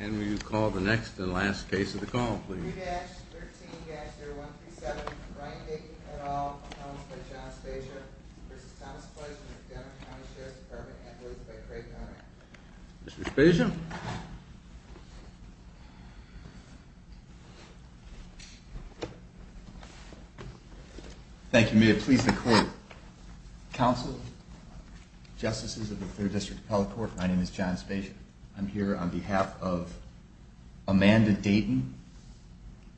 And will you call the next and last case of the call, please? 3-13-0137, Brian Dakin, et al., appellants by John Spezia v. Thomas Pledge, from the Denver County Sheriff's Department, appellates by Craig Donner. Mr. Spezia? Thank you. May it please the Court. Counsel, Justices of the 3rd District Appellate Court, my name is John Spezia. I'm here on behalf of Amanda Dayton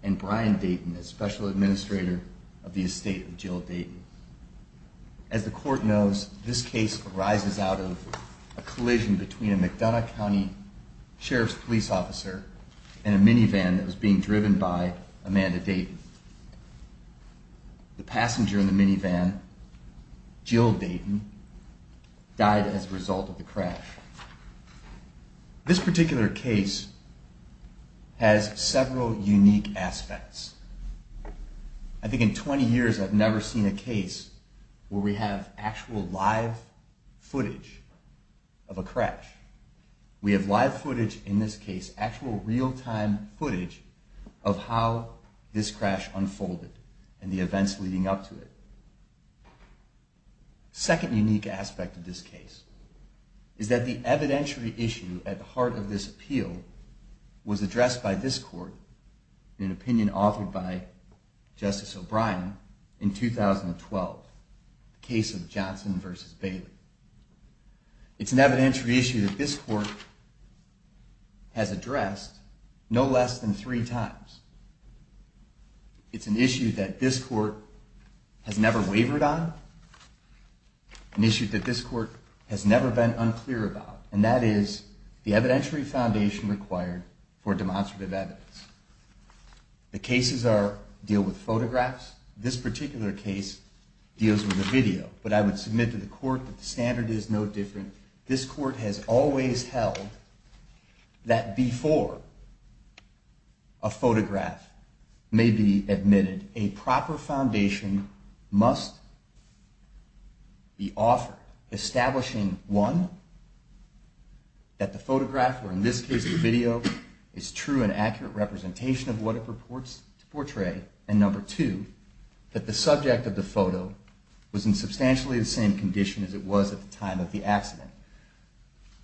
and Brian Dayton, as Special Administrator of the Estate of Jill Dayton. As the Court knows, this case arises out of a collision between a McDonough County Sheriff's Police Officer and a minivan that was being driven by Amanda Dayton. The passenger in the minivan, Jill Dayton, died as a result of the crash. This particular case has several unique aspects. I think in 20 years I've never seen a case where we have actual live footage of a crash. We have live footage in this case, actual real-time footage, of how this crash unfolded and the events leading up to it. The second unique aspect of this case is that the evidentiary issue at the heart of this appeal was addressed by this Court in an opinion authored by Justice O'Brien in 2012, the case of Johnson v. Bailey. It's an evidentiary issue that this Court has addressed no less than three times. It's an issue that this Court has never wavered on, an issue that this Court has never been unclear about, and that is the evidentiary foundation required for demonstrative evidence. The cases deal with photographs. This particular case deals with a video, but I would submit to the Court that the standard is no different. This Court has always held that before a photograph may be admitted, a proper foundation must be offered, establishing, one, that the photograph, or in this case the video, is true and accurate representation of what it purports to portray, and number two, that the subject of the photo was in substantially the same condition as it was at the time of the accident.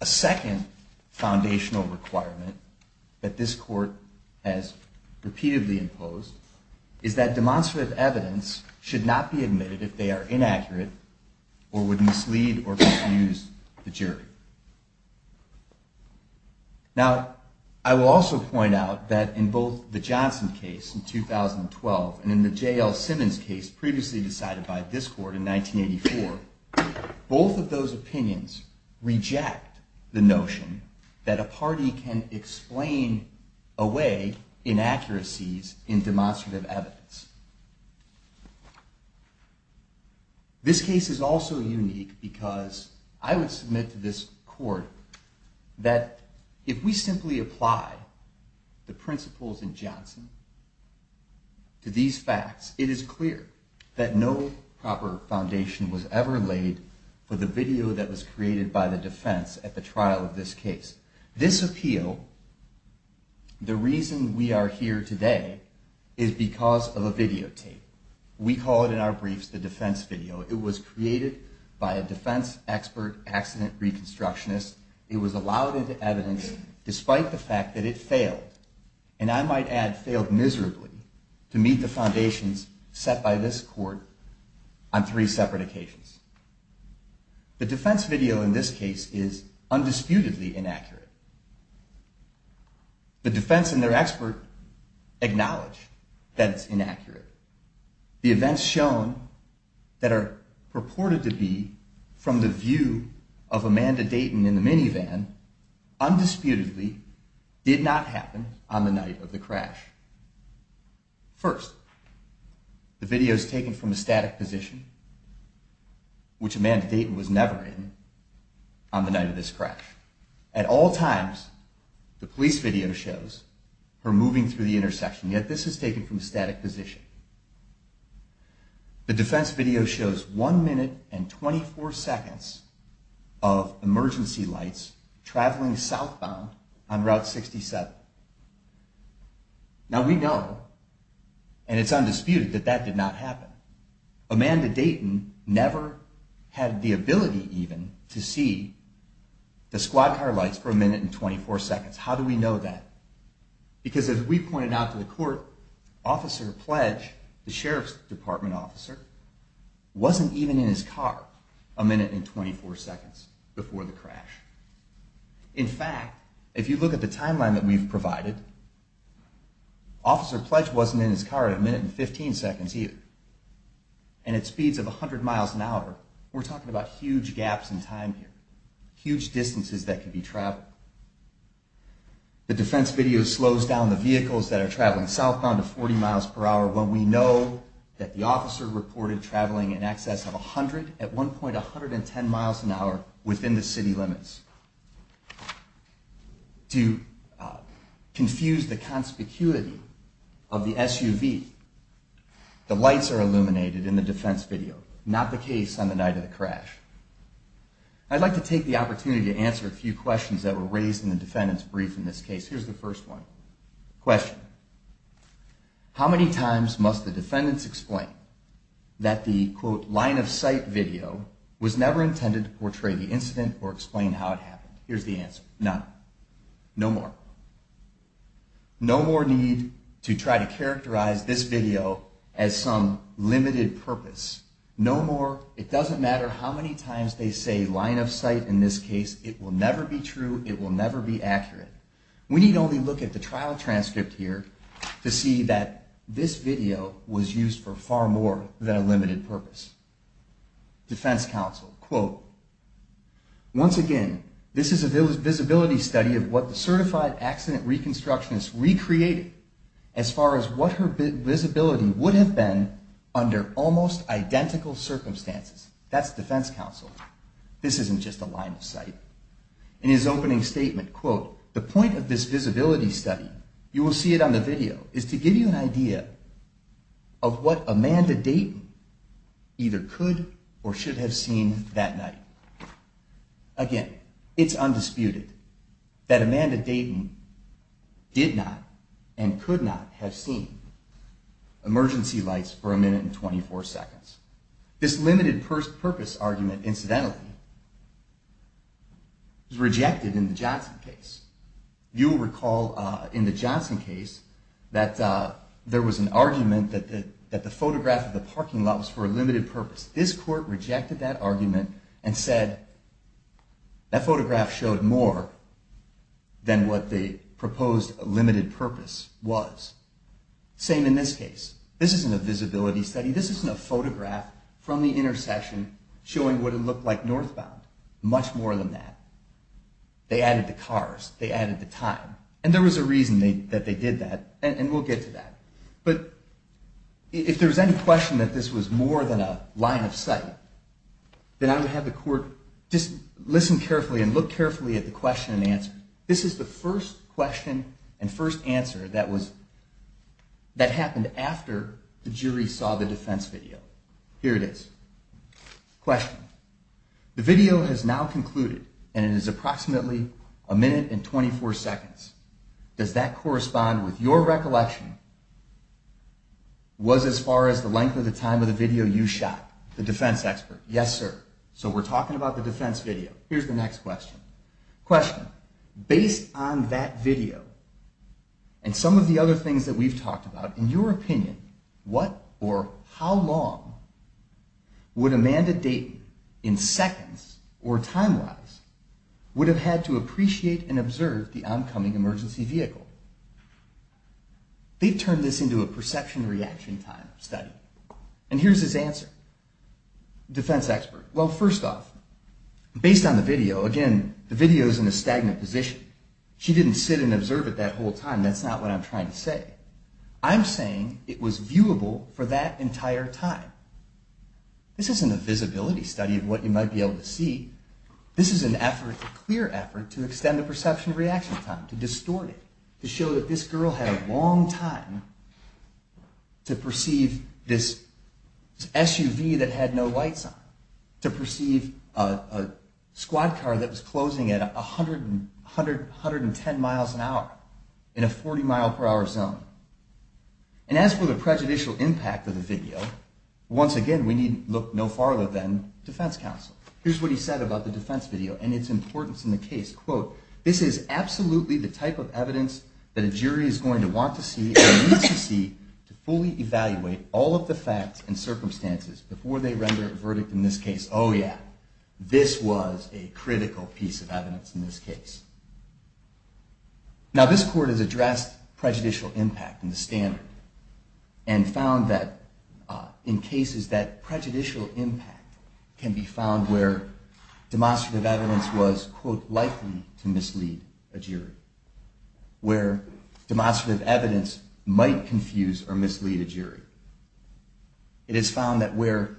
A second foundational requirement that this Court has repeatedly imposed is that demonstrative evidence should not be admitted if they are inaccurate Now, I will also point out that in both the Johnson case in 2012 and in the J.L. Simmons case previously decided by this Court in 1984, both of those opinions reject the notion that a party can explain away inaccuracies in demonstrative evidence. This case is also unique because I would submit to this Court that if we simply apply the principles in Johnson to these facts, it is clear that no proper foundation was ever laid for the video that was created by the defense at the trial of this case. This appeal, the reason we are here today, is because of a videotape. We call it in our briefs the defense video. It was created by a defense expert accident reconstructionist. It was allowed into evidence despite the fact that it failed, and I might add failed miserably, to meet the foundations set by this Court on three separate occasions. The defense video in this case is undisputedly inaccurate. The defense and their expert acknowledge that it's inaccurate. The events shown that are purported to be from the view of Amanda Dayton in the minivan undisputedly did not happen on the night of the crash. First, the video is taken from a static position, which Amanda Dayton was never in, on the night of this crash. At all times, the police video shows her moving through the intersection, yet this is taken from a static position. The defense video shows one minute and 24 seconds of emergency lights traveling southbound on Route 67. Now we know, and it's undisputed, that that did not happen. Amanda Dayton never had the ability, even, to see the squad car lights for a minute and 24 seconds. How do we know that? Because as we pointed out to the Court, Officer Pledge, the Sheriff's Department officer, wasn't even in his car a minute and 24 seconds before the crash. In fact, if you look at the timeline that we've provided, Officer Pledge wasn't in his car a minute and 15 seconds either. And at speeds of 100 miles an hour, we're talking about huge gaps in time here, huge distances that can be traveled. The defense video slows down the vehicles that are traveling southbound to 40 miles per hour when we know that the officer reported traveling in excess of 100 at one point 110 miles an hour within the city limits. To confuse the conspicuity of the SUV, the lights are illuminated in the defense video, not the case on the night of the crash. I'd like to take the opportunity to answer a few questions that were raised in the defendant's brief in this case. Here's the first one. Question. How many times must the defendants explain that the, quote, line of sight video was never intended to portray the incident or explain how it happened? Here's the answer. None. No more. No more need to try to characterize this video as some limited purpose. No more. It doesn't matter how many times they say line of sight in this case. It will never be true. It will never be accurate. We need only look at the trial transcript here to see that this video was used for far more than a limited purpose. Defense counsel, quote, once again, this is a visibility study of what the certified accident reconstructionist recreated as far as what her visibility would have been under almost identical circumstances. That's defense counsel. This isn't just a line of sight. In his opening statement, quote, the point of this visibility study, you will see it on the video, is to give you an idea of what Amanda Dayton either could or should have seen that night. Again, it's undisputed that Amanda Dayton did not and could not have seen emergency lights for a minute and 24 seconds. This limited purpose argument, incidentally, is rejected in the Johnson case. You will recall in the Johnson case that there was an argument that the photograph of the parking lot was for a limited purpose. This court rejected that argument and said that photograph showed more than what the proposed limited purpose was. Same in this case. This isn't a visibility study. This isn't a photograph from the intersection showing what it looked like northbound. Much more than that. They added the cars. They added the time. And there was a reason that they did that. And we'll get to that. But if there was any question that this was more than a line of sight, then I would have the court just listen carefully and look carefully at the question and answer. This is the first question and first answer that happened after the jury saw the defense video. Here it is. Question. The video has now concluded and it is approximately a minute and 24 seconds. Does that correspond with your recollection was as far as the length of the time of the video you shot? The defense expert. Yes, sir. So we're talking about the defense video. Here's the next question. Question. Based on that video and some of the other things that we've talked about, in your opinion, what or how long would Amanda Dayton, in seconds or time-wise, would have had to appreciate and observe the oncoming emergency vehicle? They've turned this into a perception reaction time study. And here's his answer. Defense expert. Well, first off, based on the video, again, the video is in a stagnant position. She didn't sit and observe it that whole time. That's not what I'm trying to say. I'm saying it was viewable for that entire time. This isn't a visibility study of what you might be able to see. This is an effort, a clear effort to extend the perception reaction time, to distort it, to show that this girl had a long time to perceive this SUV that had no lights on, to perceive a squad car that was closing at 110 miles an hour in a 40 mile per hour zone. And as for the prejudicial impact of the video, once again, we need look no farther than defense counsel. Here's what he said about the defense video and its importance in the case. Quote, this is absolutely the type of evidence that a jury is going to want to see and needs to see to fully evaluate all of the facts and circumstances before they render a verdict in this case. Oh, yeah. This was a critical piece of evidence in this case. Now, this court has addressed prejudicial impact in the standard and found that in cases that prejudicial impact can be found where demonstrative evidence was, quote, likely to mislead a jury, where demonstrative evidence might confuse or mislead a jury. It is found that where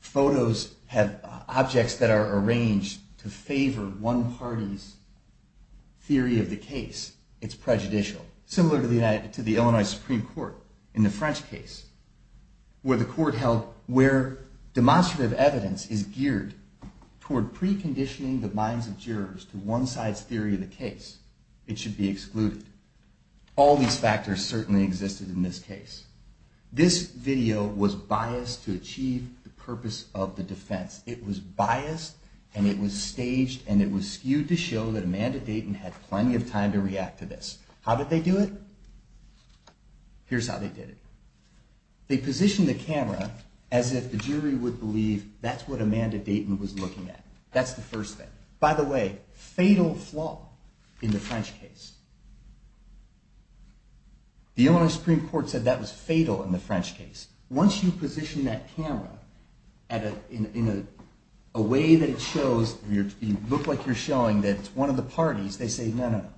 photos have objects that are arranged to favor one party's theory of the case, it's prejudicial. Similar to the Illinois Supreme Court in the French case, where the court held where demonstrative evidence is geared toward preconditioning the minds of jurors to one side's theory of the case, it should be excluded. All these factors certainly existed in this case. This video was biased to achieve the purpose of the defense. It was biased, and it was staged, and it was skewed to show that Amanda Dayton had plenty of time to react to this. How did they do it? Here's how they did it. They positioned the camera as if the jury would believe that's what Amanda Dayton was looking at. That's the first thing. By the way, fatal flaw in the French case. The Illinois Supreme Court said that was fatal in the French case. Once you position that camera in a way that it shows, you look like you're showing that it's one of the parties, they say no, no, no.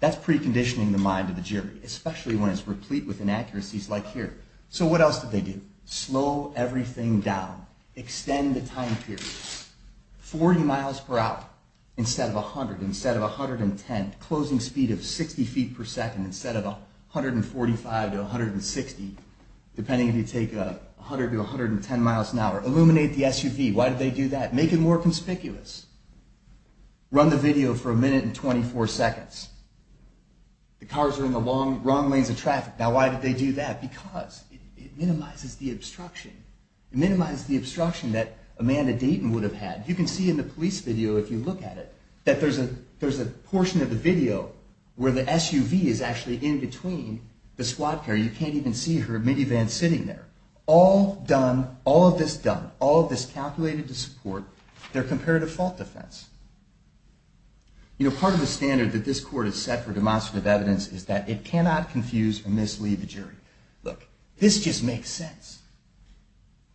That's preconditioning the mind of the jury, especially when it's replete with inaccuracies like here. So what else did they do? Slow everything down. Extend the time period. 40 miles per hour instead of 100, instead of 110. Closing speed of 60 feet per second instead of 145 to 160. Depending if you take 100 to 110 miles an hour. Illuminate the SUV. Why did they do that? Make it more conspicuous. Run the video for a minute and 24 seconds. The cars are in the wrong lanes of traffic. Now why did they do that? Because it minimizes the obstruction. It minimizes the obstruction that Amanda Dayton would have had. You can see in the police video, if you look at it, that there's a portion of the video where the SUV is actually in between the squad car. You can't even see her minivan sitting there. All done, all of this done, all of this calculated to support their comparative fault defense. You know, part of the standard that this court has set for demonstrative evidence is that it cannot confuse or mislead the jury. Look, this just makes sense.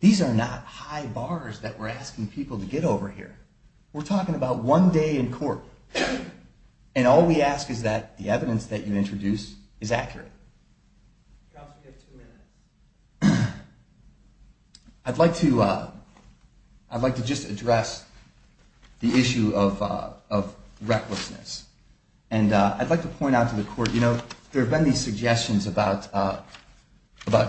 These are not high bars that we're asking people to get over here. We're talking about one day in court. And all we ask is that the evidence that you introduce is accurate. Counsel, you have two minutes. I'd like to just address the issue of recklessness. And I'd like to point out to the court, you know, there have been these suggestions about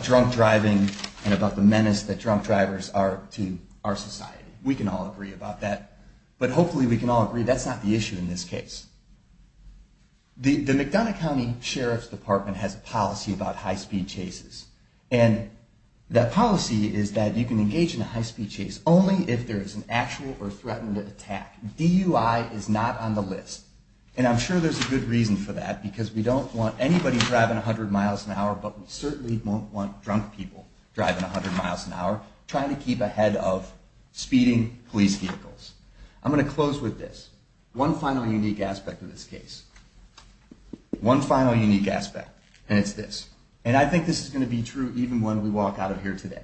drunk driving and about the menace that drunk drivers are to our society. We can all agree about that. But hopefully we can all agree that's not the issue in this case. The McDonough County Sheriff's Department has a policy about high-speed chases. And that policy is that you can engage in a high-speed chase only if there is an actual or threatened attack. DUI is not on the list. And I'm sure there's a good reason for that, because we don't want anybody driving 100 miles an hour, but we certainly won't want drunk people driving 100 miles an hour trying to keep ahead of speeding police vehicles. I'm going to close with this. One final unique aspect of this case. One final unique aspect. And it's this. And I think this is going to be true even when we walk out of here today.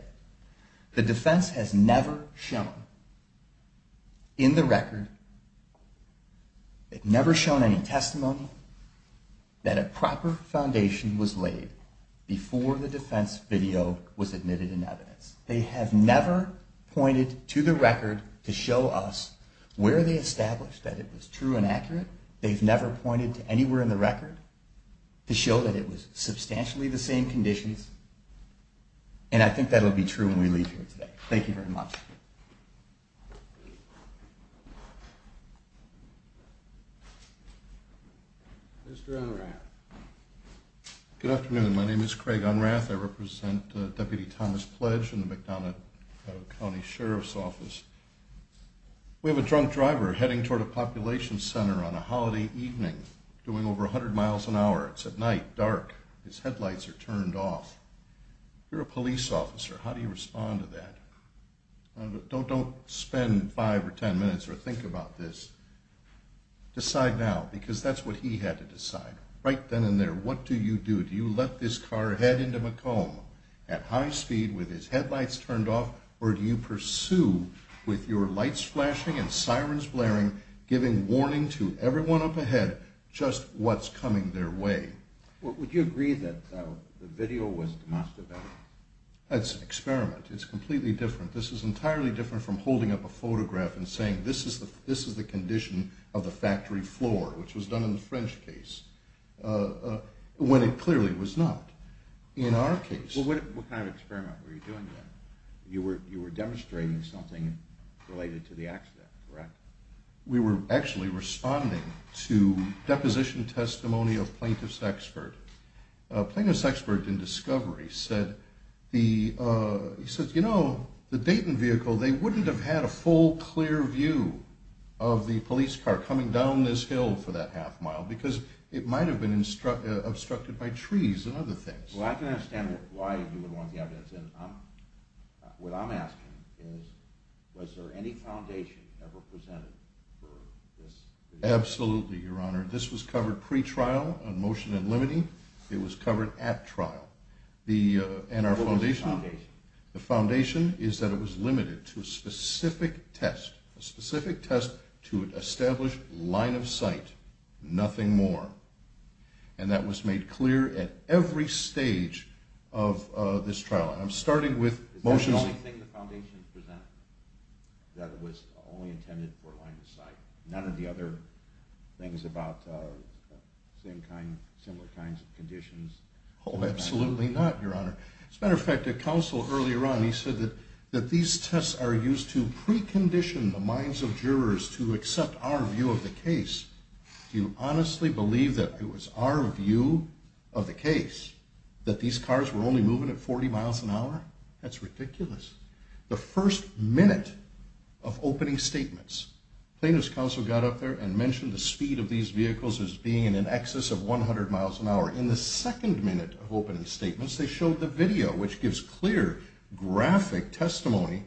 The defense has never shown in the record, never shown any testimony that a proper foundation was laid before the defense video was admitted in evidence. They have never pointed to the record to show us where they established that it was true and accurate. They've never pointed to anywhere in the record to show that it was substantially the same conditions. And I think that will be true when we leave here today. Thank you very much. Mr. Unrath. Good afternoon. My name is Craig Unrath. I represent Deputy Thomas Pledge in the McDonough County Sheriff's Office. We have a drunk driver heading toward a population center on a holiday evening doing over 100 miles an hour. It's at night, dark. His headlights are turned off. You're a police officer. How do you respond to that? Don't spend five or ten minutes or think about this. Decide now, because that's what he had to decide. Right then and there, what do you do? Do you let this car head into Macomb at high speed with his headlights turned off, or do you pursue with your lights flashing and sirens blaring, giving warning to everyone up ahead just what's coming their way? Would you agree that the video was demonstrably? That's an experiment. It's completely different. This is entirely different from holding up a photograph and saying, this is the condition of the factory floor, which was done in the French case. When it clearly was not. In our case. What kind of experiment were you doing then? You were demonstrating something related to the accident, correct? We were actually responding to deposition testimony of plaintiff's expert. Plaintiff's expert in discovery said, he said, you know, the Dayton vehicle, they wouldn't have had a full, clear view of the police car coming down this hill for that half mile because it might have been obstructed by trees and other things. Well, I can understand why you would want the evidence in. What I'm asking is, was there any foundation ever presented for this? Absolutely, Your Honor. This was covered pre-trial on motion and limiting. It was covered at trial. And our foundation? What was the foundation? The foundation is that it was limited to a specific test, a specific test to establish line of sight. Nothing more. And that was made clear at every stage of this trial. And I'm starting with motion. Is that the only thing the foundation presented? That it was only intended for line of sight? None of the other things about same kind, similar kinds of conditions? Oh, absolutely not, Your Honor. As a matter of fact, the counsel earlier on, he said that these tests are used to precondition the minds of jurors to accept our view of the case. Do you honestly believe that it was our view of the case that these cars were only moving at 40 miles an hour? That's ridiculous. The first minute of opening statements, plaintiff's counsel got up there and mentioned the speed of these vehicles as being in an excess of 100 miles an hour. In the second minute of opening statements, they showed the video, which gives clear graphic testimony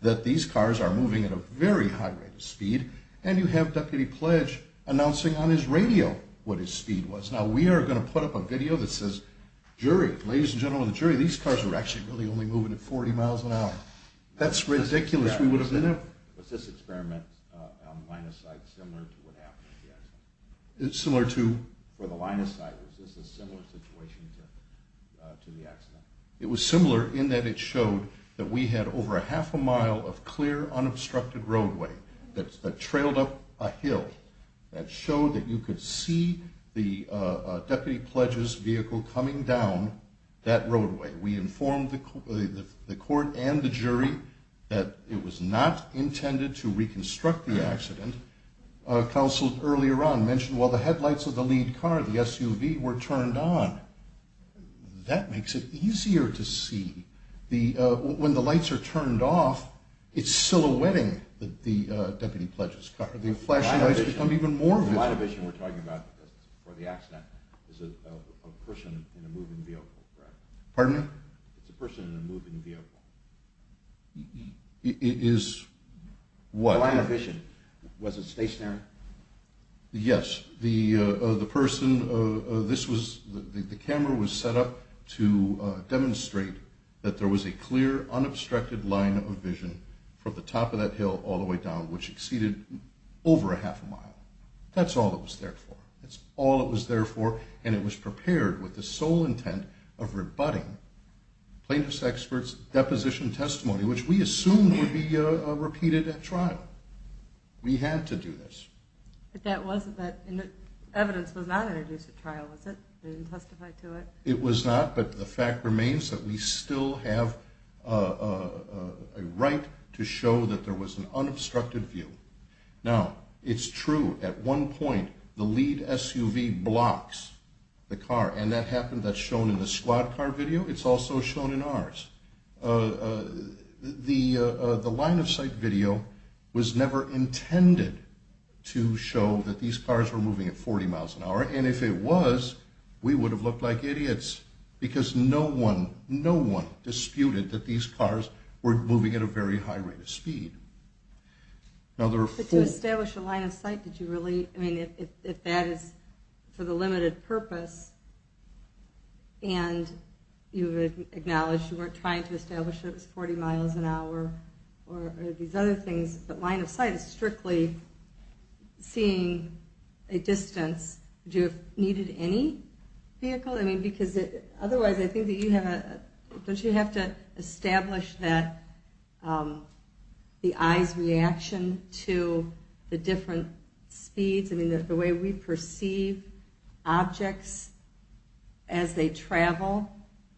that these cars are moving at a very high rate of speed, and you have Deputy Pledge announcing on his radio what his speed was. Now, we are going to put up a video that says, ladies and gentlemen of the jury, these cars were actually really only moving at 40 miles an hour. That's ridiculous. Was this experiment on line of sight similar to what happened at the accident? Similar to? It was similar in that it showed that we had over half a mile of clear, unobstructed roadway that trailed up a hill that showed that you could see the Deputy Pledge's vehicle coming down that roadway. We informed the court and the jury that it was not intended to reconstruct the accident. Counsel earlier on mentioned, while the headlights of the lead car, the SUV, were turned on. That makes it easier to see. When the lights are turned off, it's silhouetting the Deputy Pledge's car. The flashing lights become even more visible. Line of vision we're talking about for the accident is a person in a moving vehicle, correct? Pardon me? It's a person in a moving vehicle. It is what? Line of vision. Was it stationary? Yes. The person, this was, the camera was set up to demonstrate that there was a clear, unobstructed line of vision from the top of that hill all the way down, which exceeded over a half a mile. That's all it was there for. That's all it was there for, and it was prepared with the sole intent of rebutting which we assumed would be repeated at trial. We had to do this. But that wasn't, that evidence was not introduced at trial, was it? They didn't testify to it? It was not, but the fact remains that we still have a right to show that there was an unobstructed view. Now, it's true, at one point, the lead SUV blocks the car, and that happened, that's shown in the squad car video. It's also shown in ours. The line-of-sight video was never intended to show that these cars were moving at 40 miles an hour, and if it was, we would have looked like idiots because no one, no one disputed that these cars were moving at a very high rate of speed. But to establish a line-of-sight, did you really, I mean, if that is for the limited purpose, and you acknowledged you weren't trying to establish that it was 40 miles an hour or these other things, but line-of-sight is strictly seeing a distance, would you have needed any vehicle? I mean, because otherwise, I think that you have, don't you have to establish that the eye's reaction to the different speeds? I mean, that the way we perceive objects as they travel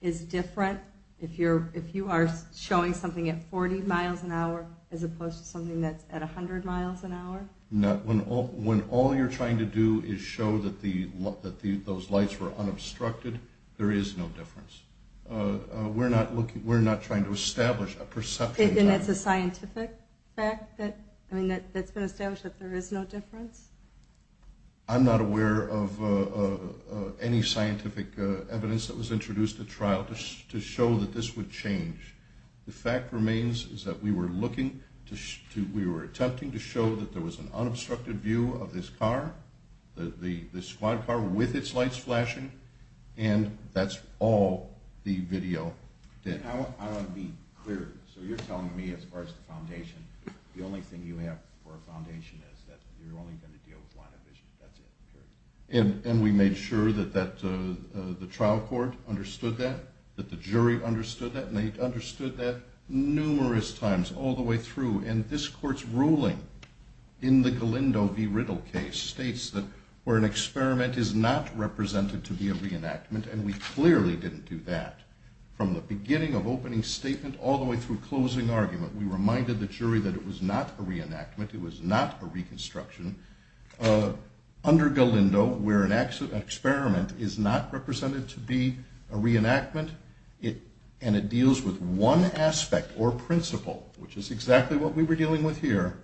is different if you are showing something at 40 miles an hour as opposed to something that's at 100 miles an hour? When all you're trying to do is show that those lights were unobstructed, there is no difference. We're not trying to establish a perception. Then it's a scientific fact that, I mean, I'm not aware of any scientific evidence that was introduced at trial to show that this would change. The fact remains is that we were attempting to show that there was an unobstructed view of this car, this squad car, with its lights flashing, and that's all the video did. I want to be clear. So you're telling me, as far as the foundation, the only thing you have for a foundation is that you're only going to deal with line of vision. That's it. Period. And we made sure that the trial court understood that, that the jury understood that, and they understood that numerous times all the way through. And this Court's ruling in the Galindo v. Riddle case states that where an experiment is not represented to be a reenactment, and we clearly didn't do that. From the beginning of opening statement all the way through closing argument, we reminded the jury that it was not a reenactment, it was not a reconstruction. Under Galindo, where an experiment is not represented to be a reenactment, and it deals with one aspect or principle, which is exactly what we were dealing with here,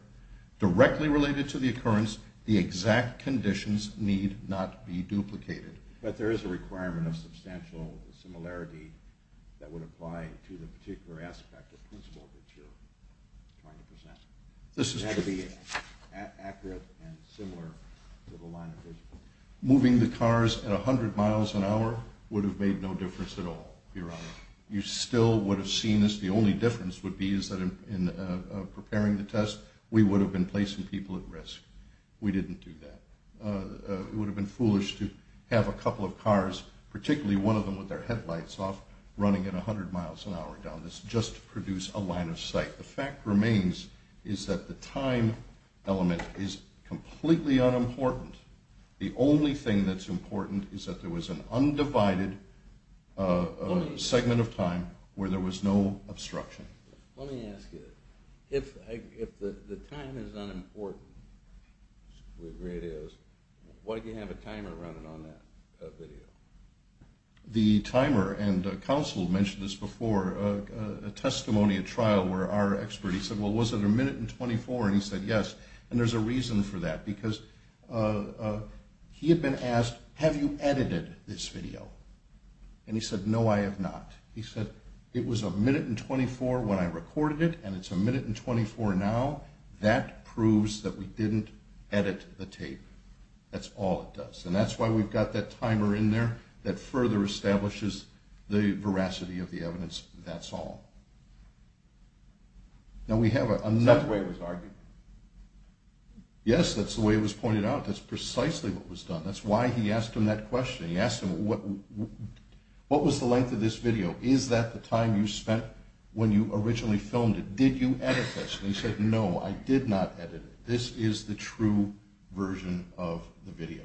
directly related to the occurrence, the exact conditions need not be duplicated. But there is a requirement of substantial similarity that would apply to the particular aspect or principle that you're trying to present. This is true. It had to be accurate and similar to the line of vision. Moving the cars at 100 miles an hour would have made no difference at all, Your Honor. You still would have seen this. The only difference would be is that in preparing the test, we would have been placing people at risk. We didn't do that. It would have been foolish to have a couple of cars, particularly one of them with their headlights off, running at 100 miles an hour down this just to produce a line of sight. The fact remains is that the time element is completely unimportant. The only thing that's important is that there was an undivided segment of time where there was no obstruction. Let me ask you, if the time is unimportant, which we agree it is, why do you have a timer running on that video? The timer, and counsel mentioned this before, a testimony at trial where our expert, he said, well, was it a minute and 24? And he said, yes, and there's a reason for that because he had been asked, have you edited this video? And he said, no, I have not. He said, it was a minute and 24 when I recorded it, and it's a minute and 24 now. That proves that we didn't edit the tape. That's all it does. And that's why we've got that timer in there that further establishes the veracity of the evidence. That's all. Now, we have another... That's the way it was argued. Yes, that's the way it was pointed out. That's precisely what was done. That's why he asked him that question. He asked him, what was the length of this video? Is that the time you spent when you originally filmed it? Did you edit this? And he said, no, I did not edit it. This is the true version of the video.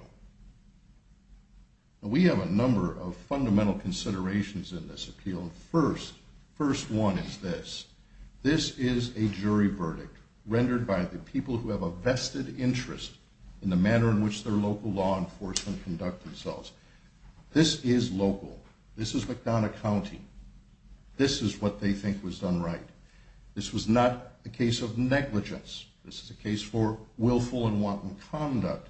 We have a number of fundamental considerations in this appeal. First, first one is this. This is a jury verdict rendered by the people who have a vested interest in the manner in which their local law enforcement conduct themselves. This is local. This is McDonough County. This is what they think was done right. This was not a case of negligence. This is a case for willful and wanton conduct.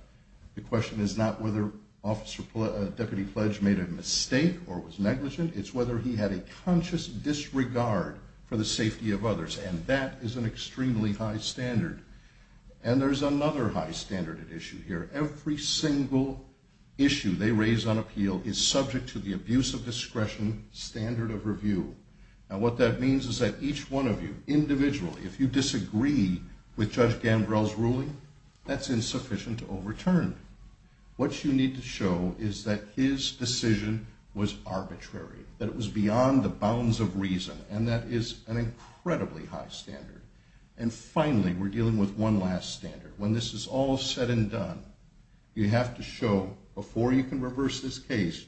The question is not whether Deputy Pledge made a mistake or was negligent. It's whether he had a conscious disregard for the safety of others. And that is an extremely high standard. And there's another high standard at issue here. Every single issue they raise on appeal is subject to the abuse of discretion standard of review. And what that means is that each one of you, individually, if you disagree with Judge Gambrell's ruling, that's insufficient to overturn. What you need to show is that his decision was arbitrary, that it was beyond the bounds of reason, and that is an incredibly high standard. And finally, we're dealing with one last standard. When this is all said and done, you have to show before you can reverse this case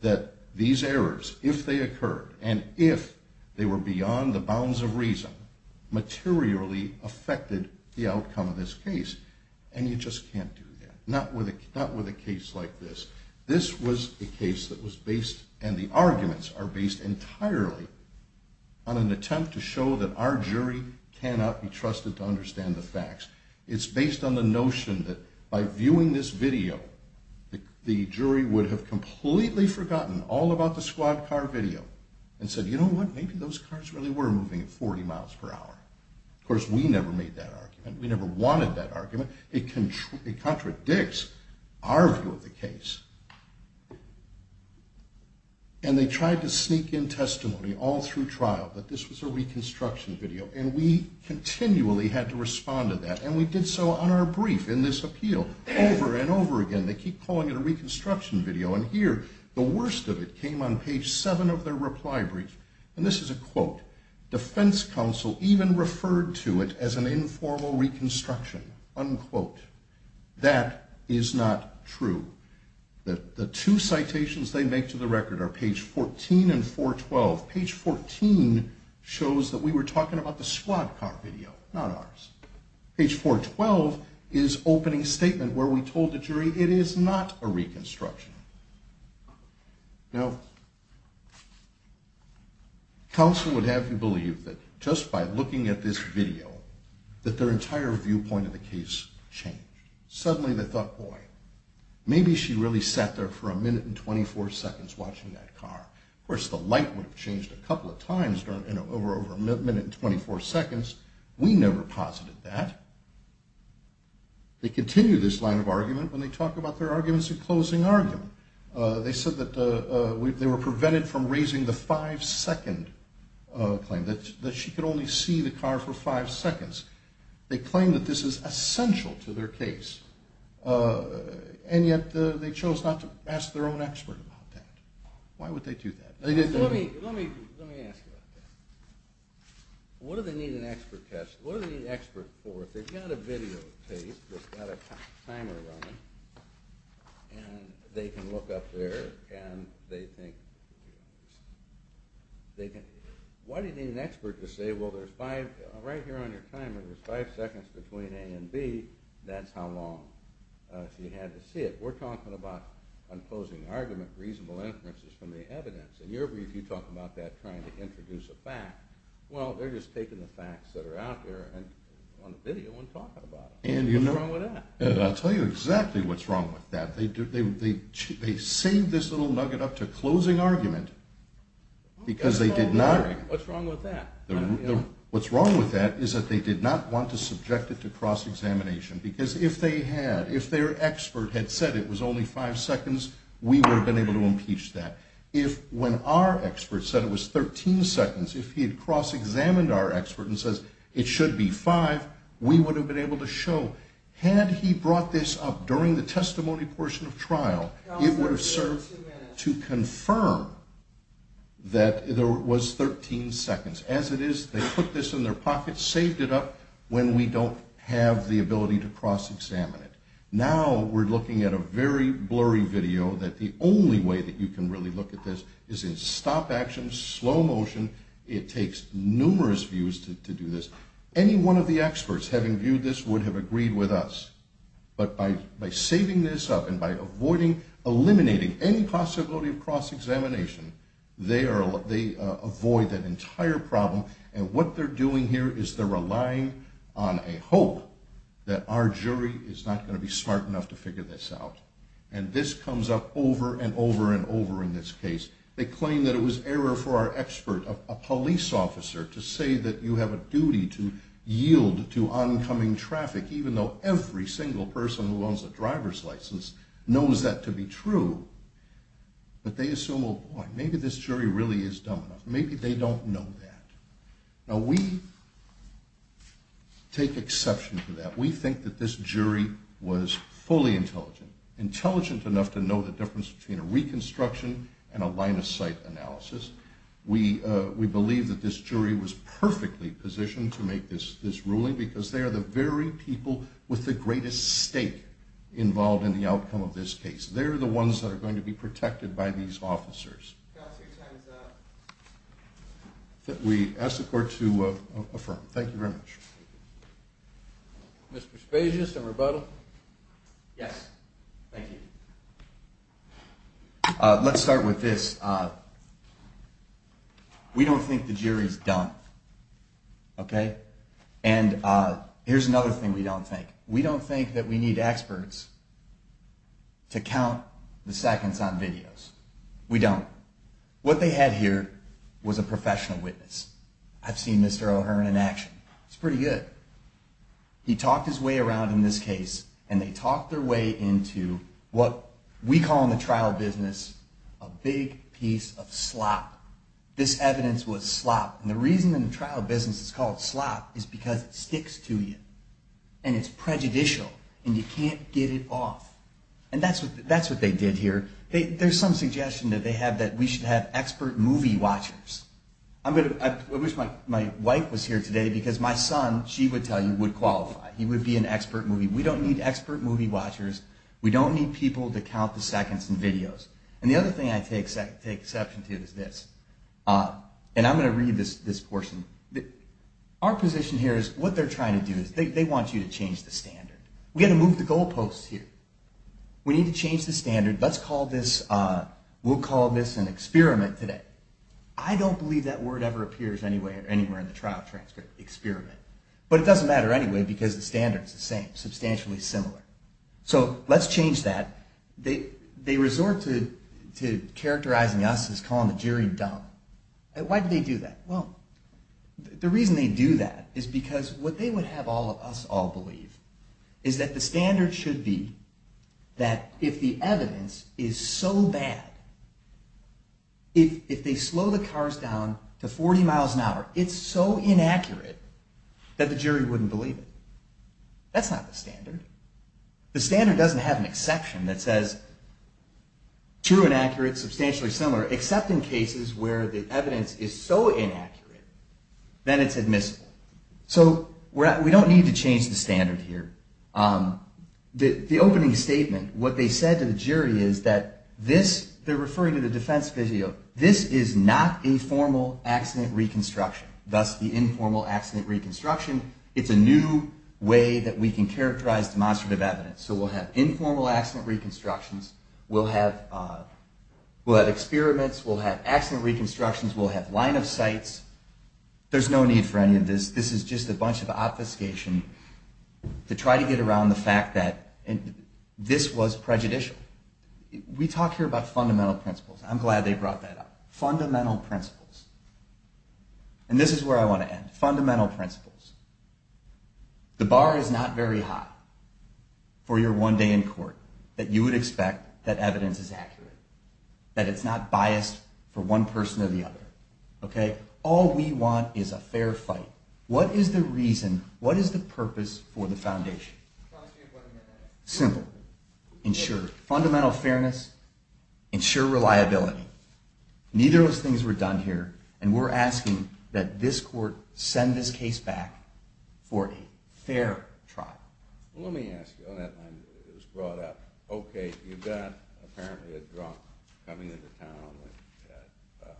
that these errors, if they occurred, and if they were beyond the bounds of reason, have materially affected the outcome of this case. And you just can't do that. Not with a case like this. This was a case that was based, and the arguments are based entirely, on an attempt to show that our jury cannot be trusted to understand the facts. It's based on the notion that by viewing this video, the jury would have completely forgotten all about the squad car video and said, you know what? Maybe those cars really were moving at 40 miles per hour. Of course, we never made that argument. We never wanted that argument. It contradicts our view of the case. And they tried to sneak in testimony all through trial that this was a reconstruction video, and we continually had to respond to that, and we did so on our brief in this appeal, over and over again. They keep calling it a reconstruction video, and here, the worst of it, came on page 7 of their reply brief, and this is a quote. Defense counsel even referred to it as an informal reconstruction. Unquote. That is not true. The two citations they make to the record are page 14 and 412. Page 14 shows that we were talking about the squad car video, not ours. Page 412 is opening statement, where we told the jury it is not a reconstruction. Counsel would have you believe that just by looking at this video, that their entire viewpoint of the case changed. Suddenly, they thought, boy, maybe she really sat there for a minute and 24 seconds watching that car. Of course, the light would have changed a couple of times over a minute and 24 seconds. We never posited that. They continue this line of argument when they talk about their arguments in closing argument. They said that they were prevented from raising the five-second claim, that she could only see the car for five seconds. They claim that this is essential to their case, and yet they chose not to ask their own expert about that. Why would they do that? Let me ask you about that. What do they need an expert for? If they've got a videotape that's got a timer running, and they can look up there and they think... Why do you need an expert to say, well, right here on your timer there's five seconds between A and B. That's how long she had to see it. We're talking about, in closing argument, reasonable inferences from the evidence. In your brief, you talk about that trying to introduce a fact. Well, they're just taking the facts that are out there. On the video, we're talking about it. What's wrong with that? I'll tell you exactly what's wrong with that. They saved this little nugget up to closing argument because they did not... What's wrong with that? What's wrong with that is that they did not want to subject it to cross-examination, because if they had, if their expert had said it was only five seconds, we would have been able to impeach that. When our expert said it was 13 seconds, if he had cross-examined our expert and said, it should be five, we would have been able to show, had he brought this up during the testimony portion of trial, it would have served to confirm that it was 13 seconds. As it is, they put this in their pocket, saved it up when we don't have the ability to cross-examine it. Now we're looking at a very blurry video that the only way that you can really look at this is in stop-action, slow motion. It takes numerous views to do this. Any one of the experts, having viewed this, would have agreed with us. But by saving this up and by avoiding, eliminating any possibility of cross-examination, they avoid that entire problem, and what they're doing here is they're relying on a hope that our jury is not going to be smart enough to figure this out. And this comes up over and over and over in this case. They claim that it was error for our expert, a police officer, to say that you have a duty to yield to oncoming traffic, even though every single person who owns a driver's license knows that to be true. But they assume, oh, boy, maybe this jury really is dumb enough. Maybe they don't know that. Now we take exception to that. intelligent enough to know the difference between a reconstruction and a line-of-sight analysis. We believe that this jury was perfectly positioned to make this ruling because they are the very people with the greatest stake involved in the outcome of this case. They're the ones that are going to be protected by these officers. We ask the Court to affirm. Thank you very much. Mr. Spasius, a rebuttal? Yes. Thank you. Let's start with this. We don't think the jury's dumb, okay? And here's another thing we don't think. We don't think that we need experts to count the seconds on videos. We don't. What they had here was a professional witness. I've seen Mr. O'Hearn in action. He's pretty good. He talked his way around in this case, and they talked their way into what we call in the trial business a big piece of slop. This evidence was slop. And the reason in the trial business it's called slop is because it sticks to you, and it's prejudicial, and you can't get it off. And that's what they did here. There's some suggestion that they have that we should have expert movie watchers. I wish my wife was here today because my son, she would tell you, would qualify. He would be an expert movie. We don't need expert movie watchers. We don't need people to count the seconds in videos. And the other thing I take exception to is this. And I'm going to read this portion. Our position here is what they're trying to do is they want you to change the standard. We've got to move the goalposts here. We need to change the standard. Let's call this an experiment today. I don't believe that word ever appears anywhere in the trial transcript, experiment. But it doesn't matter anyway because the standard is the same, substantially similar. So let's change that. They resort to characterizing us as calling the jury dumb. Why do they do that? Well, the reason they do that is because what they would have us all believe is that the standard should be that if the evidence is so bad, if they slow the cars down to 40 miles an hour, it's so inaccurate that the jury wouldn't believe it. That's not the standard. The standard doesn't have an exception that says true, inaccurate, substantially similar, except in cases where the evidence is so inaccurate that it's admissible. So we don't need to change the standard here. The opening statement, what they said to the jury is that this, they're referring to the defense video, this is not a formal accident reconstruction, thus the informal accident reconstruction. It's a new way that we can characterize demonstrative evidence. So we'll have informal accident reconstructions. We'll have experiments. We'll have accident reconstructions. We'll have line of sights. There's no need for any of this. This is just a bunch of obfuscation to try to get around the fact that this was prejudicial. We talk here about fundamental principles. I'm glad they brought that up. Fundamental principles. And this is where I want to end. Fundamental principles. The bar is not very high for your one day in court that you would expect that evidence is accurate, that it's not biased for one person or the other. All we want is a fair fight. What is the reason, what is the purpose for the foundation? Simple. Ensure fundamental fairness. Ensure reliability. Neither of those things were done here, and we're asking that this court send this case back for a fair trial. Let me ask you on that line that was brought up. Okay, you've got apparently a drunk coming into town at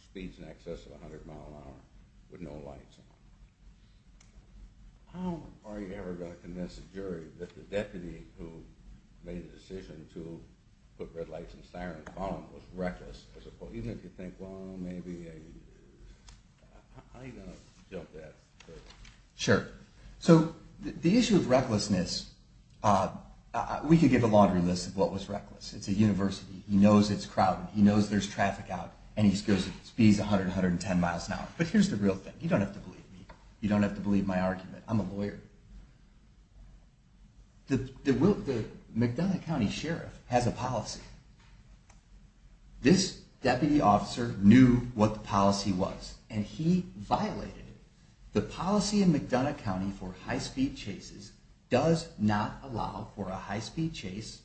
speeds in excess of 100 miles an hour with no lights on. How are you ever going to convince the jury that the deputy who made the decision to put red lights and sirens on was reckless as a cohesive? You think, well, maybe a, how are you going to jump that? Sure. So the issue of recklessness, we could give a laundry list of what was reckless. It's a university. He knows it's crowded. He knows there's traffic out, and he goes at speeds 100, 110 miles an hour. But here's the real thing. You don't have to believe my argument. I'm a lawyer. The McDonough County Sheriff has a policy. This deputy officer knew what the policy was, and he violated it. The policy in McDonough County for high-speed chases does not allow for a high-speed chase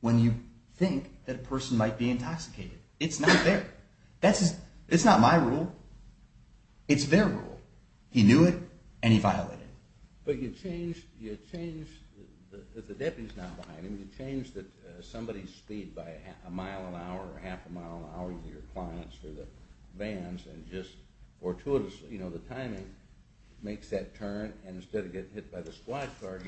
when you think that a person might be intoxicated. It's not there. It's not my rule. It's their rule. He knew it, and he violated it. But you change that the deputy's not behind him. You change that somebody's speed by a mile an hour or half a mile an hour to your clients or the vans, and just fortuitously, you know, the timing makes that turn, and instead of getting hit by the squad car, it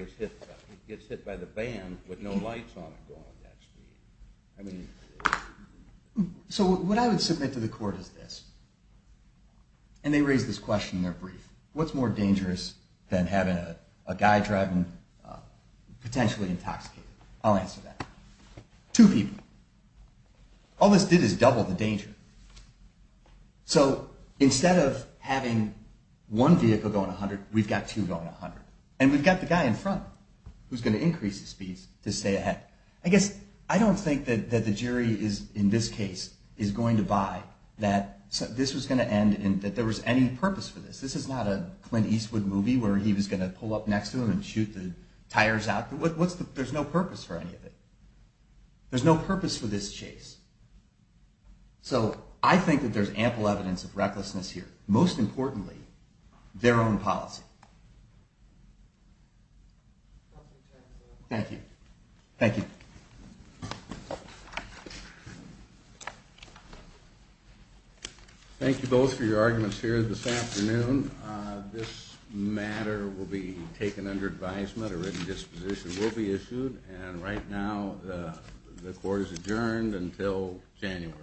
gets hit by the van with no lights on it going at that speed. So what I would submit to the court is this, and they raise this question in their brief. What's more dangerous than having a guy driving, potentially intoxicated? I'll answer that. Two people. All this did is double the danger. So instead of having one vehicle going 100, we've got two going 100, and we've got the guy in front who's going to increase the speeds to stay ahead. I guess I don't think that the jury is, in this case, is going to buy that this was going to end and that there was any purpose for this. This is not a Clint Eastwood movie where he was going to pull up next to him and shoot the tires out. There's no purpose for any of it. There's no purpose for this chase. So I think that there's ample evidence of recklessness here. Most importantly, their own policy. Thank you. Thank you. Thank you both for your arguments here this afternoon. This matter will be taken under advisement. A written disposition will be issued. And right now, the court is adjourned until January.